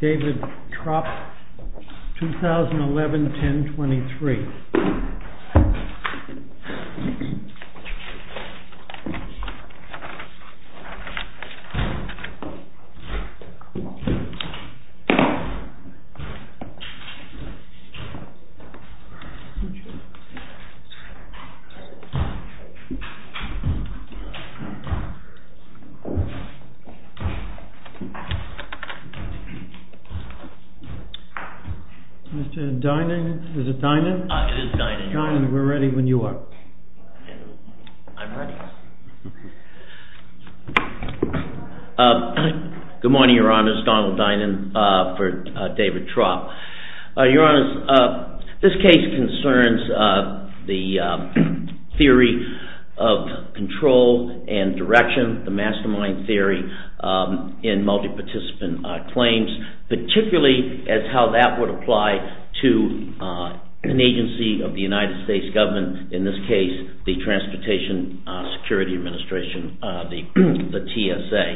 David Tropp, 2011-10-23 Mr. Dynan, is it Dynan? It is Dynan. Dynan, we're ready when you are. I'm ready. Good morning, Your Honor. This is Donald Dynan for David Tropp. Your Honor, this case concerns the theory of control and direction, the mastermind theory, in multi-participant claims. Particularly as how that would apply to an agency of the United States government. In this case, the Transportation Security Administration, the TSA.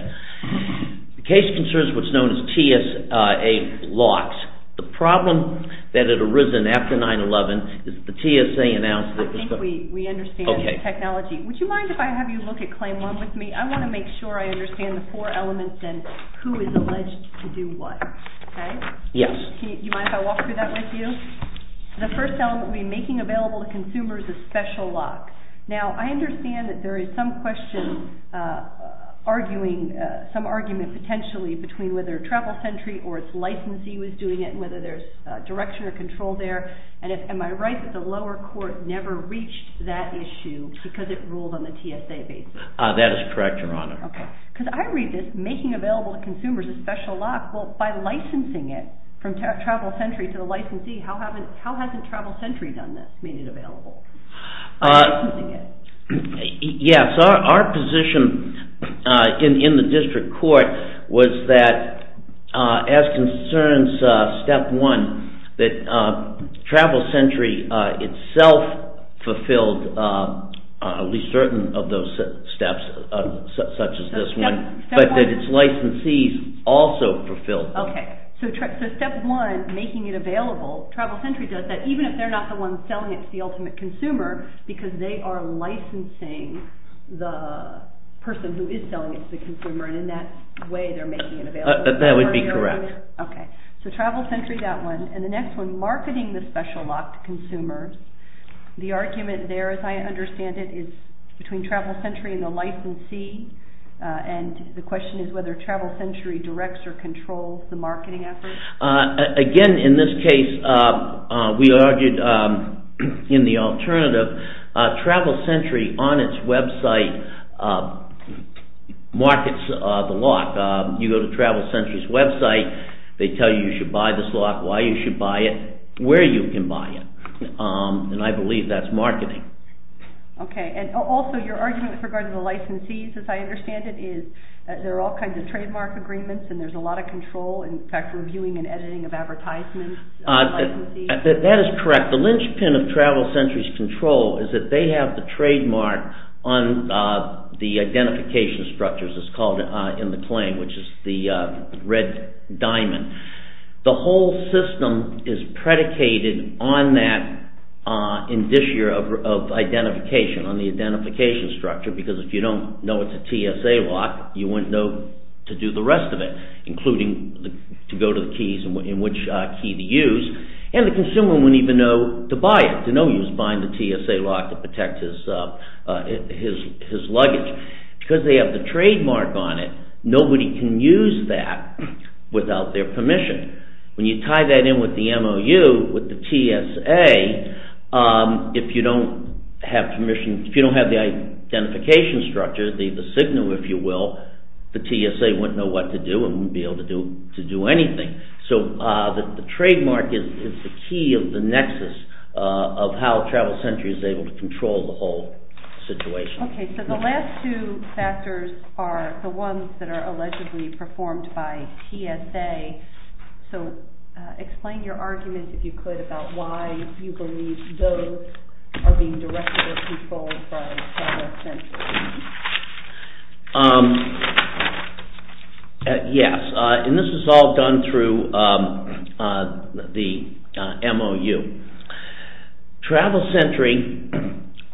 The case concerns what's known as TSA locks. The problem that had arisen after 9-11 is the TSA announced... I think we understand the technology. Would you mind if I have you look at claim one with me? I want to make sure I understand the four elements and who is alleged to do what. Okay? Yes. Do you mind if I walk through that with you? The first element would be making available to consumers a special lock. Now, I understand that there is some question arguing, some argument potentially, between whether TRAVEL SENTRY or its licensee was doing it, whether there's direction or control there. Am I right that the lower court never reached that issue because it ruled on the TSA basis? That is correct, Your Honor. Okay. Because I read this, making available to consumers a special lock, well, by licensing it from TRAVEL SENTRY to the licensee, how hasn't TRAVEL SENTRY done this, made it available? By licensing it. Yes. Our position in the district court was that, as concerns step one, that TRAVEL SENTRY itself fulfilled at least certain of those steps, such as this one, but that its licensees also fulfilled them. Okay. So, step one, making it available, TRAVEL SENTRY does that, even if they're not the ones selling it to the ultimate consumer, because they are licensing the person who is selling it to the consumer, and in that way, they're making it available. That would be correct. Okay. So, TRAVEL SENTRY, that one. And the next one, marketing the special lock to consumers. The argument there, as I understand it, is between TRAVEL SENTRY and the licensee, and the question is whether TRAVEL SENTRY directs or controls the marketing effort. Again, in this case, we argued in the alternative. TRAVEL SENTRY, on its website, markets the lock. You go to TRAVEL SENTRY's website, they tell you you should buy this lock, why you should buy it, where you can buy it, and I believe that's marketing. Okay. And also, your argument with regard to the licensees, as I understand it, is that there are all kinds of trademark agreements, and there's a lot of control, in fact, reviewing and editing of advertisements. That is correct. The linchpin of TRAVEL SENTRY's control is that they have the trademark on the identification structures, it's called in the claim, which is the red diamond. The whole system is predicated on that in this year of identification, on the identification structure, because if you don't know it's a TSA lock, you wouldn't know to do the rest of it, including to go to the keys and which key to use, and the consumer wouldn't even know to buy it, to know he was buying the TSA lock to protect his luggage. Because they have the trademark on it, nobody can use that without their permission. When you tie that in with the MOU, with the TSA, if you don't have permission, if you don't have the identification structure, the signal, if you will, the TSA wouldn't know what to do and wouldn't be able to do anything. So the trademark is the key of the nexus of how TRAVEL SENTRY is able to control the whole situation. Okay, so the last two factors are the ones that are allegedly performed by TSA. So explain your argument, if you could, about why you believe those are being directed or controlled by TRAVEL SENTRY. Yes, and this is all done through the MOU. TRAVEL SENTRY,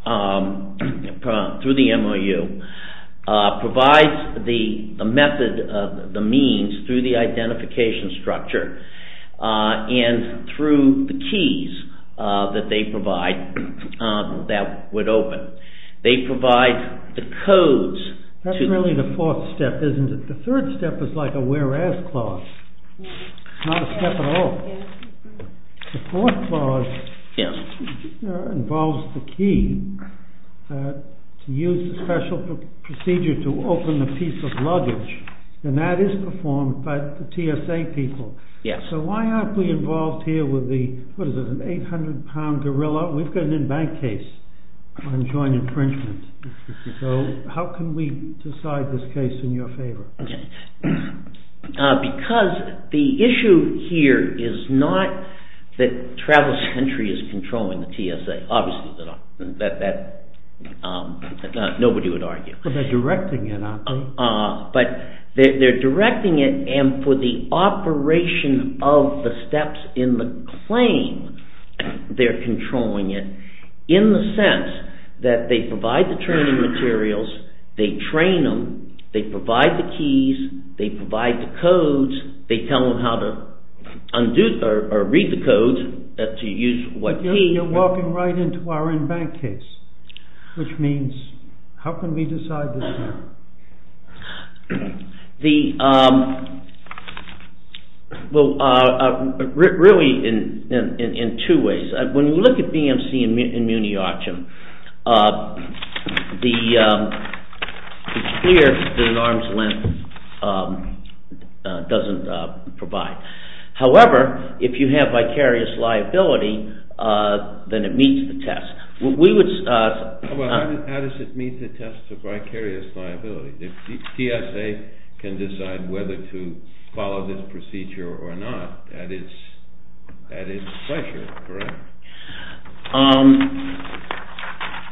through the MOU, provides the method, the means, through the identification structure and through the keys that they provide that would open. They provide the codes. That's really the fourth step, isn't it? The third step is like a whereas clause. It's not a step at all. The fourth clause involves the key to use the special procedure to open the piece of luggage, and that is performed by the TSA people. So why aren't we involved here with the, what is it, an 800 pound gorilla? We've got an in-bank case on joint infringement. So how can we decide this case in your favor? Because the issue here is not that TRAVEL SENTRY is controlling the TSA. Obviously, nobody would argue. But they're directing it, aren't they? In the sense that they provide the training materials. They train them. They provide the keys. They provide the codes. They tell them how to read the codes, to use what keys. You're walking right into our in-bank case, which means how can we decide this now? Really, in two ways. When you look at BMC and Muni Archam, it's clear that an arm's length doesn't provide. However, if you have vicarious liability, then it meets the test. How does it meet the test of vicarious liability? The TSA can decide whether to follow this procedure or not. That is the pressure, correct?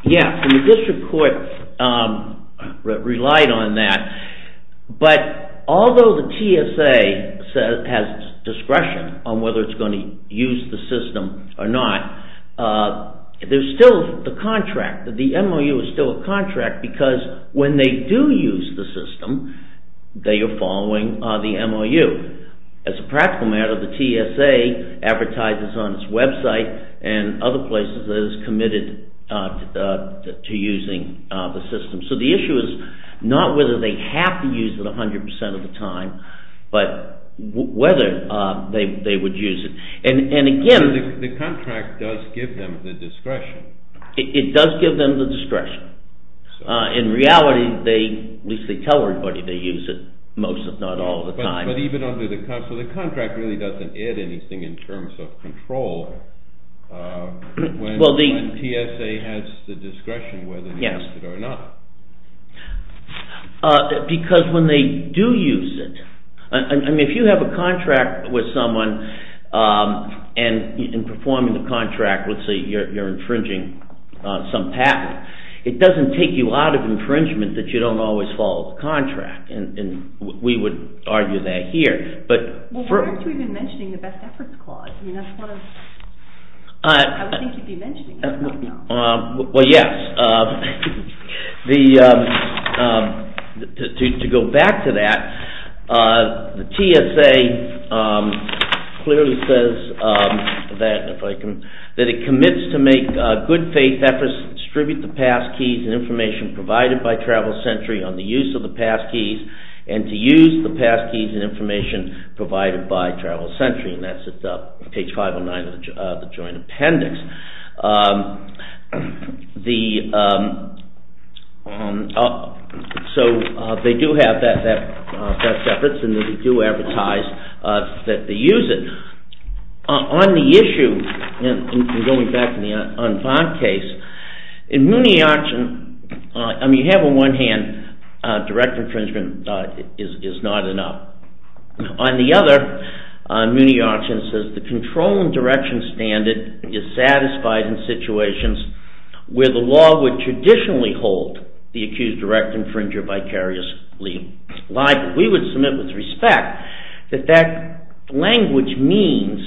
Yes, and the district court relied on that. But although the TSA has discretion on whether it's going to use the system or not, there's still the contract. The MOU is still a contract because when they do use the system, they are following the MOU. As a practical matter, the TSA advertises on its website and other places that it's committed to using the system. So the issue is not whether they have to use it 100% of the time, but whether they would use it. The contract does give them the discretion. It does give them the discretion. In reality, at least they tell everybody they use it, most if not all the time. So the contract really doesn't add anything in terms of control when TSA has the discretion whether to use it or not. Because when they do use it, if you have a contract with someone, and in performing the contract, let's say you're infringing some patent, it doesn't take you out of infringement that you don't always follow the contract. We would argue that here. Why aren't you even mentioning the Best Efforts Clause? I would think you'd be mentioning it. Well, yes. To go back to that, the TSA clearly says that it commits to make good faith efforts to distribute the past keys and information provided by Travel Sentry on the use of the past keys and to use the past keys and information provided by Travel Sentry. And that's at page 509 of the Joint Appendix. So they do have that best efforts and they do advertise that they use it. On the issue, going back to the Enfant case, in Mooney Auction, you have on one hand direct infringement is not enough. On the other, Mooney Auction says the control and direction standard is satisfactory in situations where the law would traditionally hold the accused direct infringer vicariously liable. We would submit with respect that that language means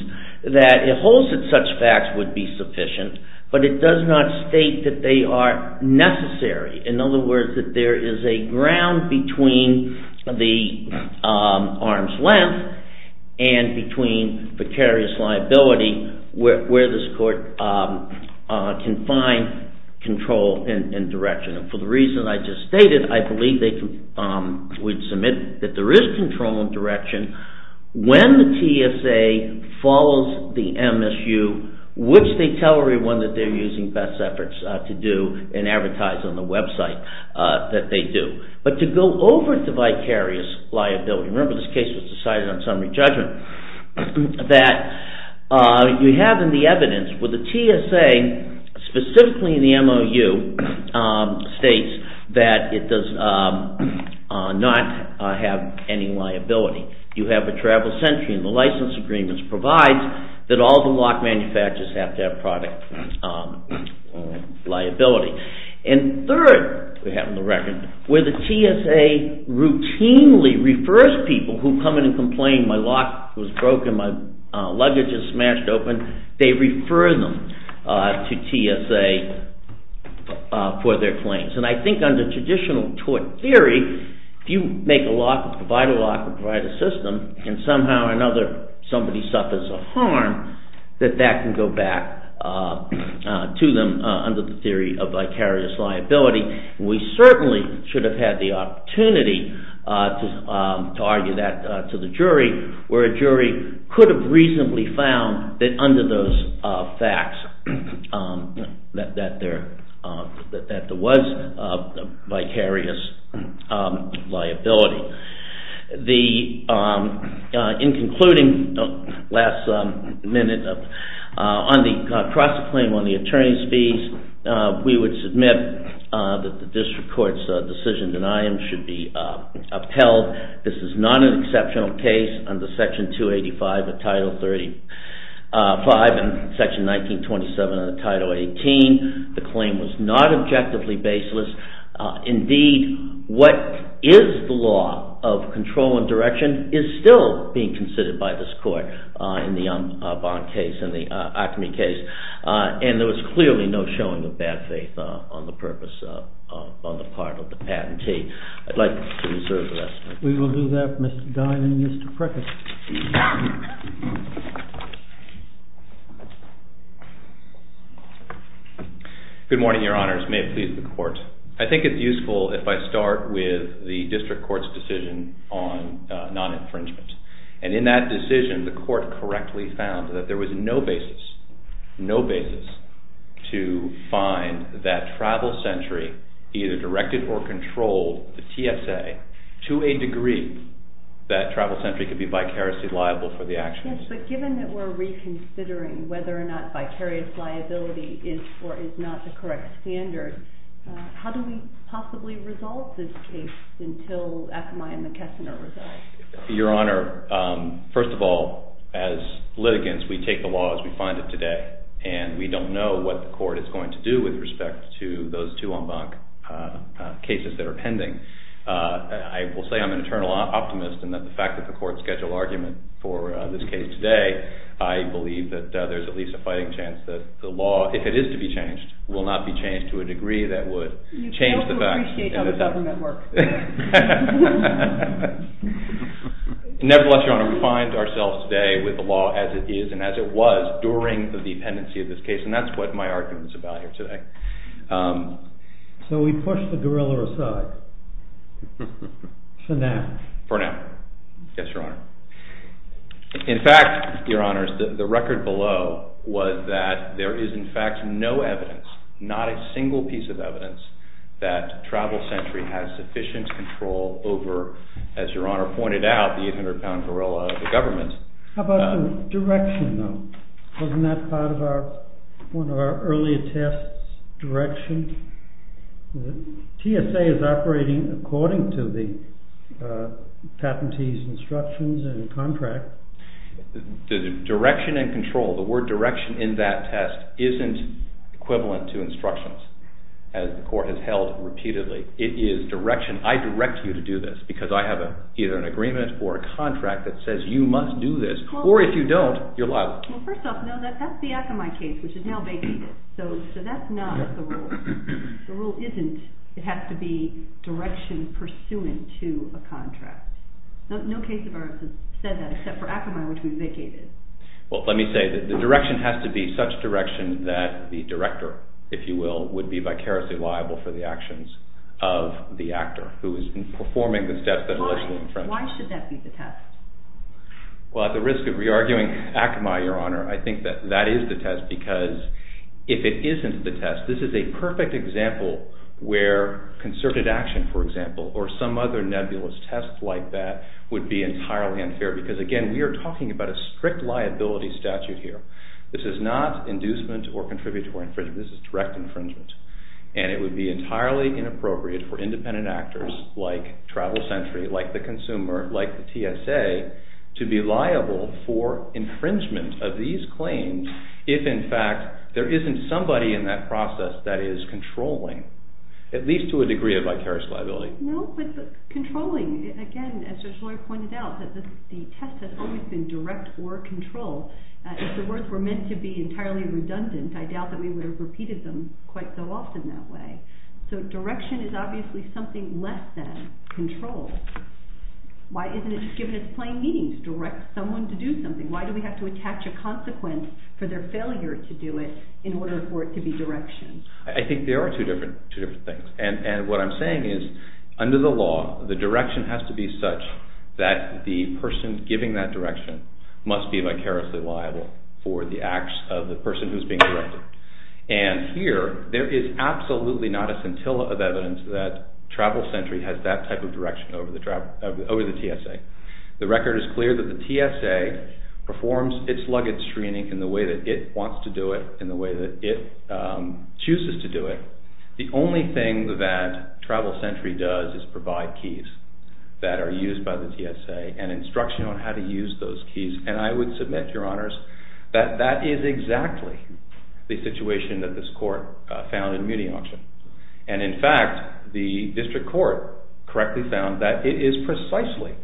that it holds that such facts would be sufficient, but it does not state that they are necessary. In other words, that there is a ground between the arm's length and between vicarious liability where this court can find control and direction. For the reason I just stated, I believe they would submit that there is control and direction when the TSA follows the MSU, which they tell everyone that they're using best efforts to do and advertise on the website that they do. But to go over to vicarious liability, remember this case was decided on summary judgment, that you have in the evidence where the TSA, specifically in the MOU, states that it does not have any liability. You have a travel century and the license agreement provides that all the lock manufacturers have to have product liability. And third, we have in the record, where the TSA routinely refers people who come in and complain my lock was broken, my luggage is smashed open, they refer them to TSA for their claims. And I think under traditional tort theory, if you make a lock or provide a lock or provide a system and somehow or another somebody suffers a harm, that that can go back to them under the theory of vicarious liability. We certainly should have had the opportunity to argue that to the jury, where a jury could have reasonably found that under those facts that there was vicarious liability. In concluding, last minute, on the cross-claim on the attorney's fees, we would submit that the district court's decision denying should be upheld. This is not an exceptional case under Section 285 of Title 35 and Section 1927 of Title 18. The claim was not objectively baseless. Indeed, what is the law of control and direction is still being considered by this court in the Umbach case and the Acme case. And there was clearly no showing of bad faith on the part of the patentee. I'd like to reserve the rest of my time. We will do that, Mr. Dine and Mr. Prickett. Good morning, Your Honors. May it please the Court. I think it's useful if I start with the district court's decision on non-infringement. And in that decision, the court correctly found that there was no basis, no basis, to find that Travel Sentry either directed or controlled the TSA to a degree that Travel Sentry could be vicarious liability. Yes, but given that we're reconsidering whether or not vicarious liability is or is not the correct standard, how do we possibly resolve this case until Acme and McKesson are resolved? Your Honor, first of all, as litigants, we take the law as we find it today. And we don't know what the court is going to do with respect to those two Umbach cases that are pending. I will say I'm an eternal optimist in that the fact that the court scheduled argument for this case today, I believe that there's at least a fighting chance that the law, if it is to be changed, will not be changed to a degree that would change the facts. You fail to appreciate how the government works. Nevertheless, Your Honor, we find ourselves today with the law as it is and as it was during the pendency of this case, and that's what my argument is about here today. So we push the gorilla aside for now? For now, yes, Your Honor. In fact, Your Honors, the record below was that there is in fact no evidence, not a single piece of evidence, that Travel Sentry has sufficient control over, as Your Honor pointed out, the 800-pound gorilla of the government. How about the direction, though? Wasn't that part of one of our earlier tests, direction? TSA is operating according to the patentee's instructions and contract. The direction and control, the word direction in that test, isn't equivalent to instructions, as the court has held repeatedly. It is direction. I direct you to do this because I have either an agreement or a contract that says you must do this, or if you don't, you're liable. Well, first off, that's the Akamai case, which is now vacated. So that's not the rule. The rule isn't it has to be direction pursuant to a contract. No case of ours has said that except for Akamai, which we vacated. Well, let me say, the direction has to be such direction that the director, if you will, would be vicariously liable for the actions of the actor who is performing the steps that allegedly infringed. Why should that be the test? Well, at the risk of re-arguing Akamai, Your Honor, I think that that is the test because if it isn't the test, this is a perfect example where concerted action, for example, or some other nebulous test like that would be entirely unfair because, again, we are talking about a strict liability statute here. This is not inducement or contributory infringement. This is direct infringement, and it would be entirely inappropriate for independent actors like Travel Sentry, like the consumer, like the TSA to be liable for infringement of these claims if, in fact, there isn't somebody in that process that is controlling, at least to a degree of vicarious liability. No, but controlling, again, as Your Honor pointed out, the test has always been direct or control. If the words were meant to be entirely redundant, I doubt that we would have repeated them quite so often that way. So direction is obviously something less than control. Why isn't it just given its plain meaning to direct someone to do something? Why do we have to attach a consequence for their failure to do it in order for it to be direction? I think there are two different things, and what I'm saying is, under the law, the direction has to be such that the person giving that direction must be vicariously liable for the acts of the person who is being directed. And here, there is absolutely not a scintilla of evidence that Travel Sentry has that type of direction over the TSA. The record is clear that the TSA performs its luggage screening in the way that it wants to do it, in the way that it chooses to do it. The only thing that Travel Sentry does is provide keys that are used by the TSA and instruction on how to use those keys, and I would submit, Your Honors, that that is exactly the situation that this Court found in Muni Auction. And in fact, the District Court correctly found that it is precisely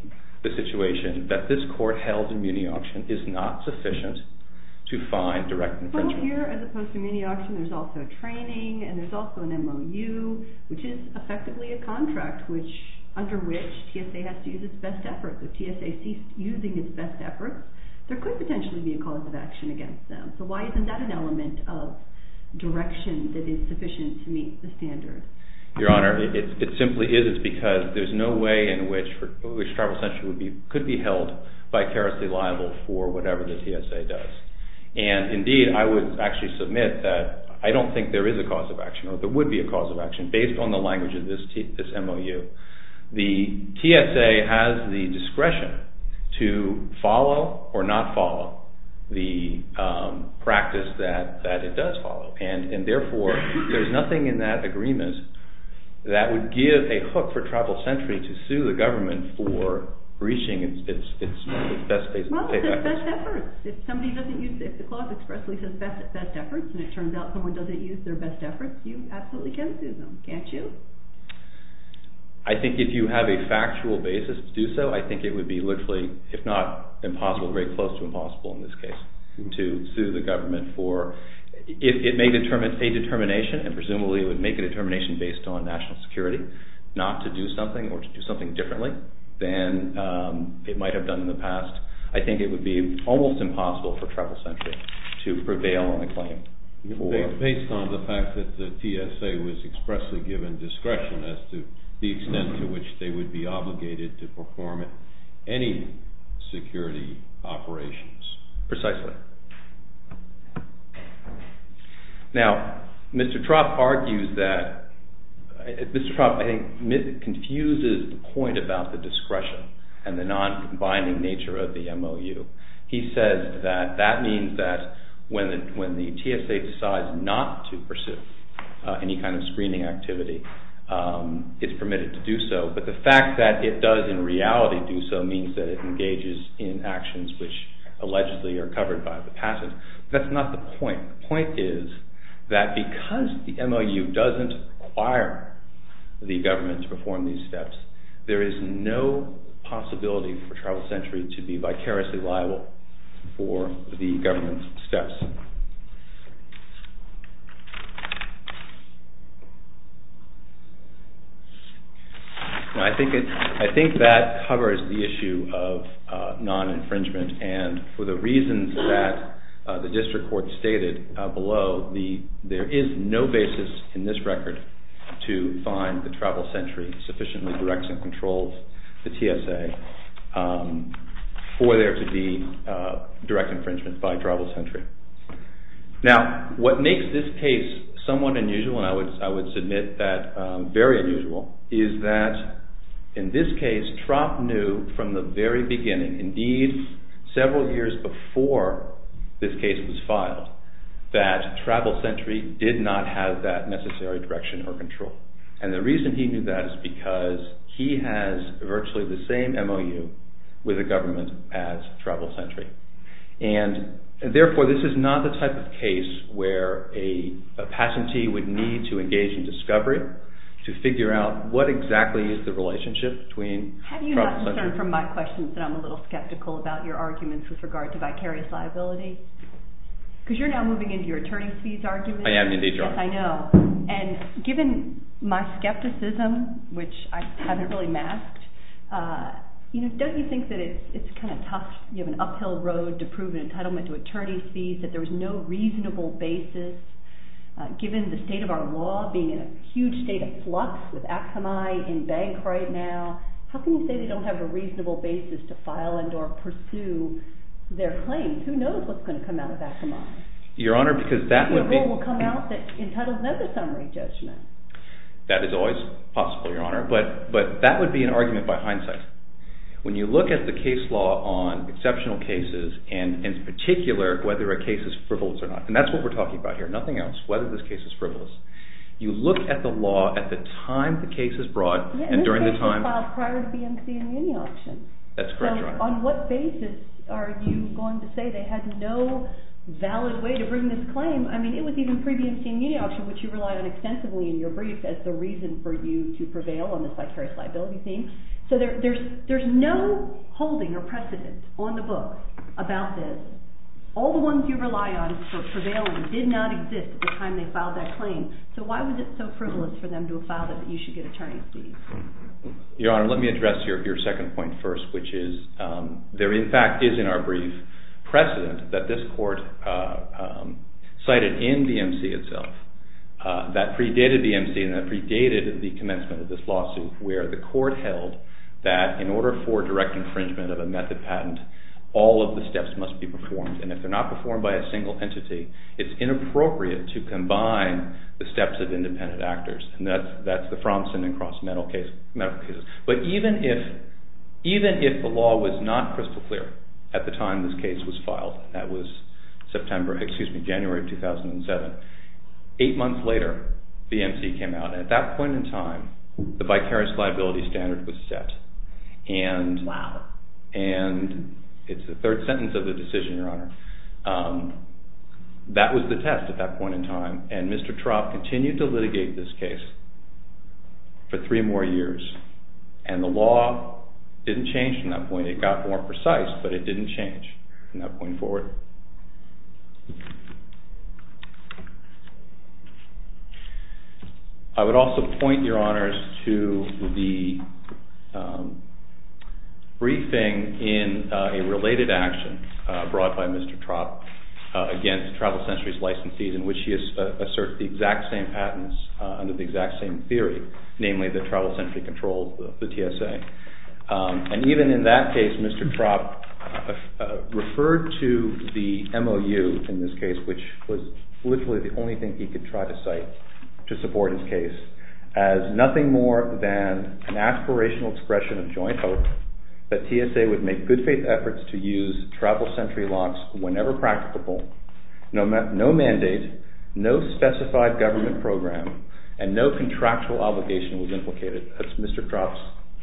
the situation that this Court held in Muni Auction is not sufficient to find direct infringement. Well, here, as opposed to Muni Auction, there's also training, and there's also an MOU, which is effectively a contract under which TSA has to use its best efforts. If TSA sees using its best efforts, there could potentially be a cause of action against them. So why isn't that an element of direction that is sufficient to meet the standards? Your Honor, it simply is because there's no way in which Travel Sentry could be held vicariously liable for whatever the TSA does. And indeed, I would actually submit that I don't think there is a cause of action, or there would be a cause of action, based on the language of this MOU. The TSA has the discretion to follow or not follow the practice that it does follow. And therefore, there's nothing in that agreement that would give a hook for Travel Sentry to sue the government for breaching its best efforts. Well, it says best efforts. If the clause expressly says best efforts, and it turns out someone doesn't use their best efforts, you absolutely can sue them, can't you? I think if you have a factual basis to do so, I think it would be literally, if not impossible, very close to impossible in this case to sue the government for... It may determine a determination, and presumably it would make a determination based on national security, not to do something or to do something differently than it might have done in the past. I think it would be almost impossible for Travel Sentry to prevail on the claim. Based on the fact that the TSA was expressly given discretion as to the extent to which they would be obligated to perform any security operations. Precisely. Now, Mr. Trott argues that... Mr. Trott, I think, confuses the point about the discretion and the non-combining nature of the MOU. He says that that means that when the TSA decides not to pursue any kind of screening activity, it's permitted to do so, but the fact that it does in reality do so means that it engages in actions which allegedly are covered by the passage. That's not the point. The point is that because the MOU doesn't require the government to perform these steps, there is no possibility for Travel Sentry to be vicariously liable for the government's steps. I think that covers the issue of non-infringement, and for the reasons that the district court stated below, there is no basis in this record to find that Travel Sentry sufficiently directs and controls the TSA for there to be direct infringement by Travel Sentry. Now, what makes this case somewhat unusual, and I would submit that very unusual, is that in this case, Trott knew from the very beginning, indeed several years before this case was filed, that Travel Sentry did not have that necessary direction or control. And the reason he knew that is because he has virtually the same MOU with the government as Travel Sentry. And therefore, this is not the type of case where a patentee would need to engage in discovery to figure out what exactly is the relationship between Travel Sentry... Have you not discerned from my questions that I'm a little skeptical about your arguments with regard to vicarious liability? Because you're now moving into your attorney's fees argument. I am indeed, Your Honor. Yes, I know. And given my skepticism, which I haven't really masked, don't you think that it's kind of tough? You have an uphill road to prove an entitlement to attorney's fees, that there is no reasonable basis. Given the state of our law being in a huge state of flux with Akamai in bank right now, how can you say they don't have a reasonable basis to file and or pursue their claims? Who knows what's going to come out of Akamai? Your Honor, because that would be... A rule will come out that entitles another summary judgment. That is always possible, Your Honor. But that would be an argument by hindsight. When you look at the case law on exceptional cases, and in particular, whether a case is frivolous or not, and that's what we're talking about here, nothing else, whether this case is frivolous, you look at the law at the time the case is brought and during the time... And this case was filed prior to BMC and the inauction. That's correct, Your Honor. On what basis are you going to say they had no valid way to bring this claim? I mean, it was even pre-BMC and the inauction, which you relied on extensively in your brief as the reason for you to prevail on this vicarious liability thing. So there's no holding or precedent on the book about this. All the ones you rely on for prevailing did not exist at the time they filed that claim. So why was it so frivolous for them to have filed it that you should get attorney's fees? Your Honor, let me address your second point first, which is there in fact is in our brief precedent that this court cited in BMC itself that predated BMC and that predated the commencement of this lawsuit where the court held that in order for direct infringement of a method patent, all of the steps must be performed. And if they're not performed by a single entity, it's inappropriate to combine the steps of independent actors. And that's the Fromson and Cross medical cases. But even if the law was not crystal clear at the time this case was filed, that was January 2007, eight months later BMC came out. And at that point in time, the vicarious liability standard was set. Wow. And it's the third sentence of the decision, Your Honor. That was the test at that point in time. And Mr. Trapp continued to litigate this case for three more years. And the law didn't change from that point. It got more precise, but it didn't change from that point forward. I would also point, Your Honors, to the briefing in a related action brought by Mr. Trapp against Travel Century's licensees in which he asserted the exact same patents under the exact same theory, namely that Travel Century controlled the TSA. And even in that case, Mr. Trapp referred to the MOU in this case, which was literally the only thing he could try to cite to support his case, as nothing more than an aspirational expression of joint hope that TSA would make good faith efforts to use Travel Century locks whenever practicable, no mandate, no specified government program, and no contractual obligation was implicated. That's Mr. Trapp's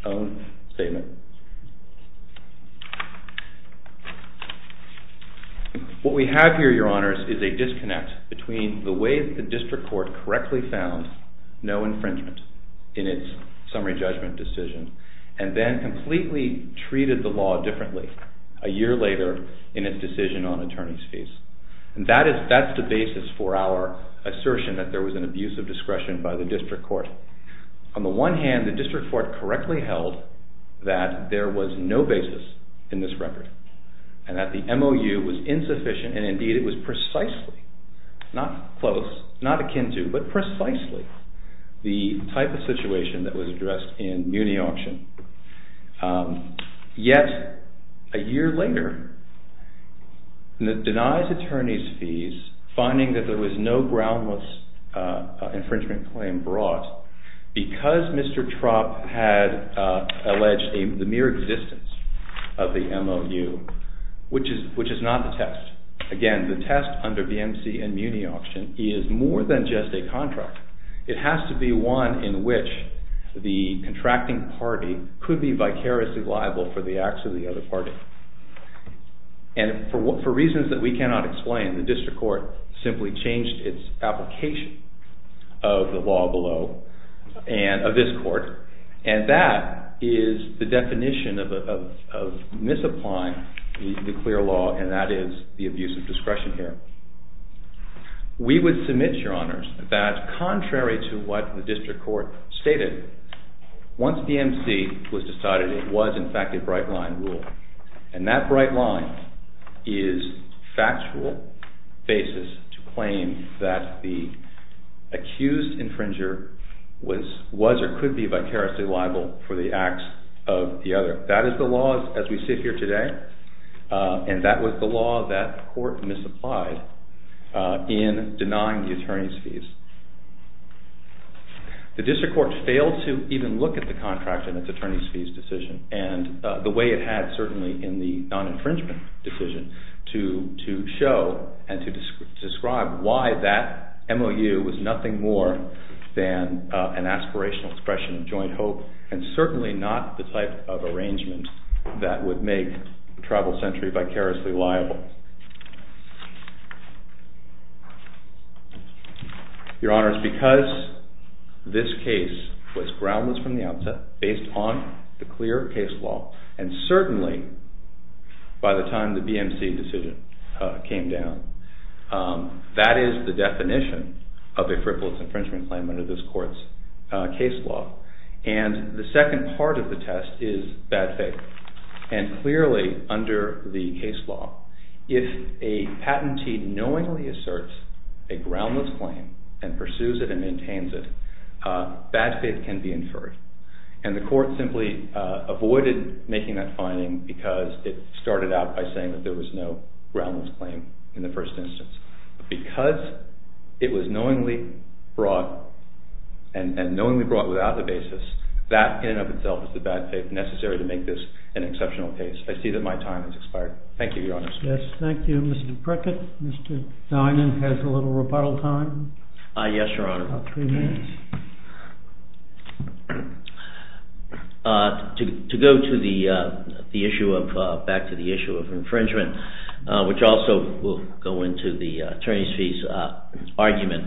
own statement. What we have here, Your Honors, is a disconnect between the way the district court correctly found no infringement in its summary judgment decision and then completely treated the law differently a year later in its decision on attorney's fees. That's the basis for our assertion that there was an abuse of discretion by the district court. On the one hand, the district court correctly held that there was no basis in this record and that the MOU was insufficient, and indeed it was precisely, not close, not akin to, but precisely the type of situation that was addressed in Muni Auction. Yet, a year later, it denies attorney's fees, finding that there was no groundless infringement claim brought because Mr. Trapp had alleged the mere existence of the MOU, which is not the test. Again, the test under BMC and Muni Auction is more than just a contract. It has to be one in which the contracting party could be vicariously liable for the acts of the other party. And for reasons that we cannot explain, the district court simply changed its application of the law below, of this court, and that is the definition of misapplying the clear law, and that is the abuse of discretion here. We would submit, your honors, that contrary to what the district court stated, once BMC was decided, it was in fact a bright line rule, and that bright line is factual basis to claim that the accused infringer was or could be vicariously liable for the acts of the other. That is the law as we sit here today, and that was the law that the court misapplied. In denying the attorney's fees, the district court failed to even look at the contract in its attorney's fees decision, and the way it had certainly in the non-infringement decision to show and to describe why that MOU was nothing more than an aspirational expression of joint hope, and certainly not the type of arrangement that would make travel sentry vicariously liable. Your honors, because this case was groundless from the outset, based on the clear case law, and certainly by the time the BMC decision came down, that is the definition of a frivolous infringement claim under this court's case law, and the second part of the test is bad faith, and clearly under the case law, if a patentee knowingly asserts a groundless claim and pursues it and maintains it, bad faith can be inferred, and the court simply avoided making that finding because it started out by saying that there was no groundless claim in the first instance. Because it was knowingly brought, and knowingly brought without the basis, that in and of itself is the bad faith necessary to make this an exceptional case. I see that my time has expired. Thank you, your honors. Yes, thank you, Mr. Prickett. Mr. Dinan has a little rebuttal time. Yes, your honor. About three minutes. To go back to the issue of infringement, which also will go into the attorneys' fees argument,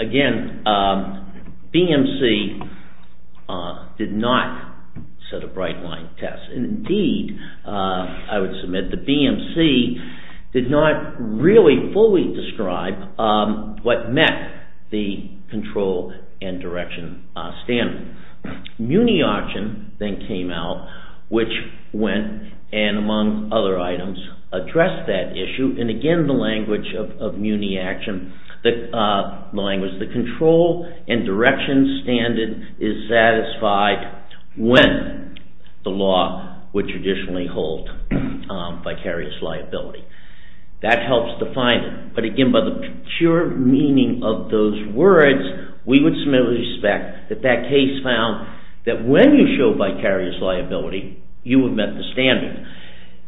again, BMC did not set a bright line test, and indeed, I would submit, the BMC did not really fully describe what met the control and direction standard. Muni action then came out, which went, and among other items, addressed that issue, and again, the language of Muni action, the control and direction standard is satisfied when the law would traditionally hold vicarious liability. That helps define it, but again, by the pure meaning of those words, we would submit with respect that that case found that when you show vicarious liability, you would met the standard,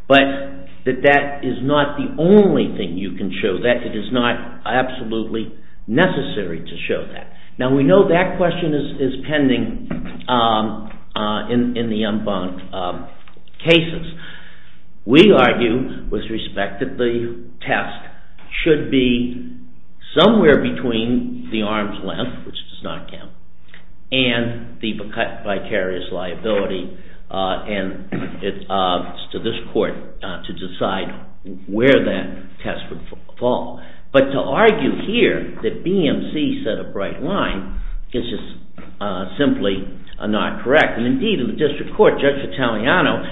but that that is not the only thing you can show, that it is not absolutely necessary to show that. Now, we know that question is pending in the en banc cases. We argue with respect that the test should be somewhere between the arm's length, which does not count, and the vicarious liability, and it's to this court to decide where that test would fall, but to argue here that BMC set a bright line is just simply not correct, and indeed, in the district court, Judge Italiano,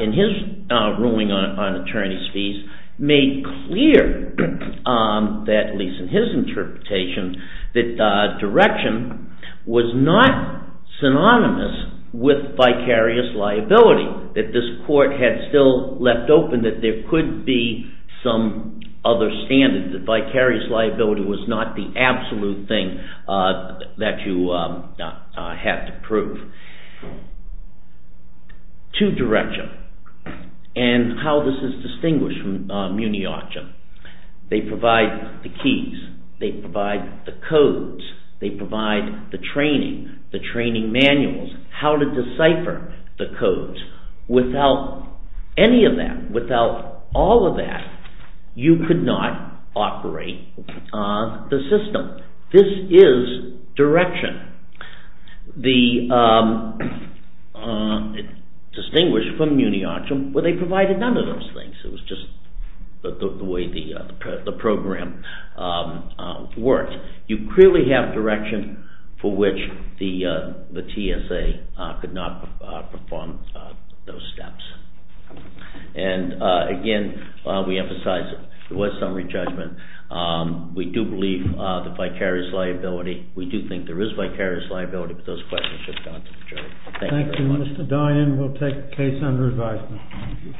in his ruling on attorneys' fees, made clear that, at least in his interpretation, that direction was not synonymous with vicarious liability, that this court had still left open that there could be some other standard, that vicarious liability was not the absolute thing that you have to prove. Two direction, and how this is distinguished from muni auction. They provide the keys. They provide the codes. They provide the training, the training manuals, how to decipher the codes. Without any of that, without all of that, you could not operate the system. This is direction, distinguished from muni auction, where they provided none of those things. It was just the way the program worked. You clearly have direction for which the TSA could not perform those steps, Again, we emphasize it was summary judgment. We do believe the vicarious liability. We do think there is vicarious liability, but those questions should have gone to the jury. Thank you. Thank you, Mr. Dian. We'll take the case under advisement.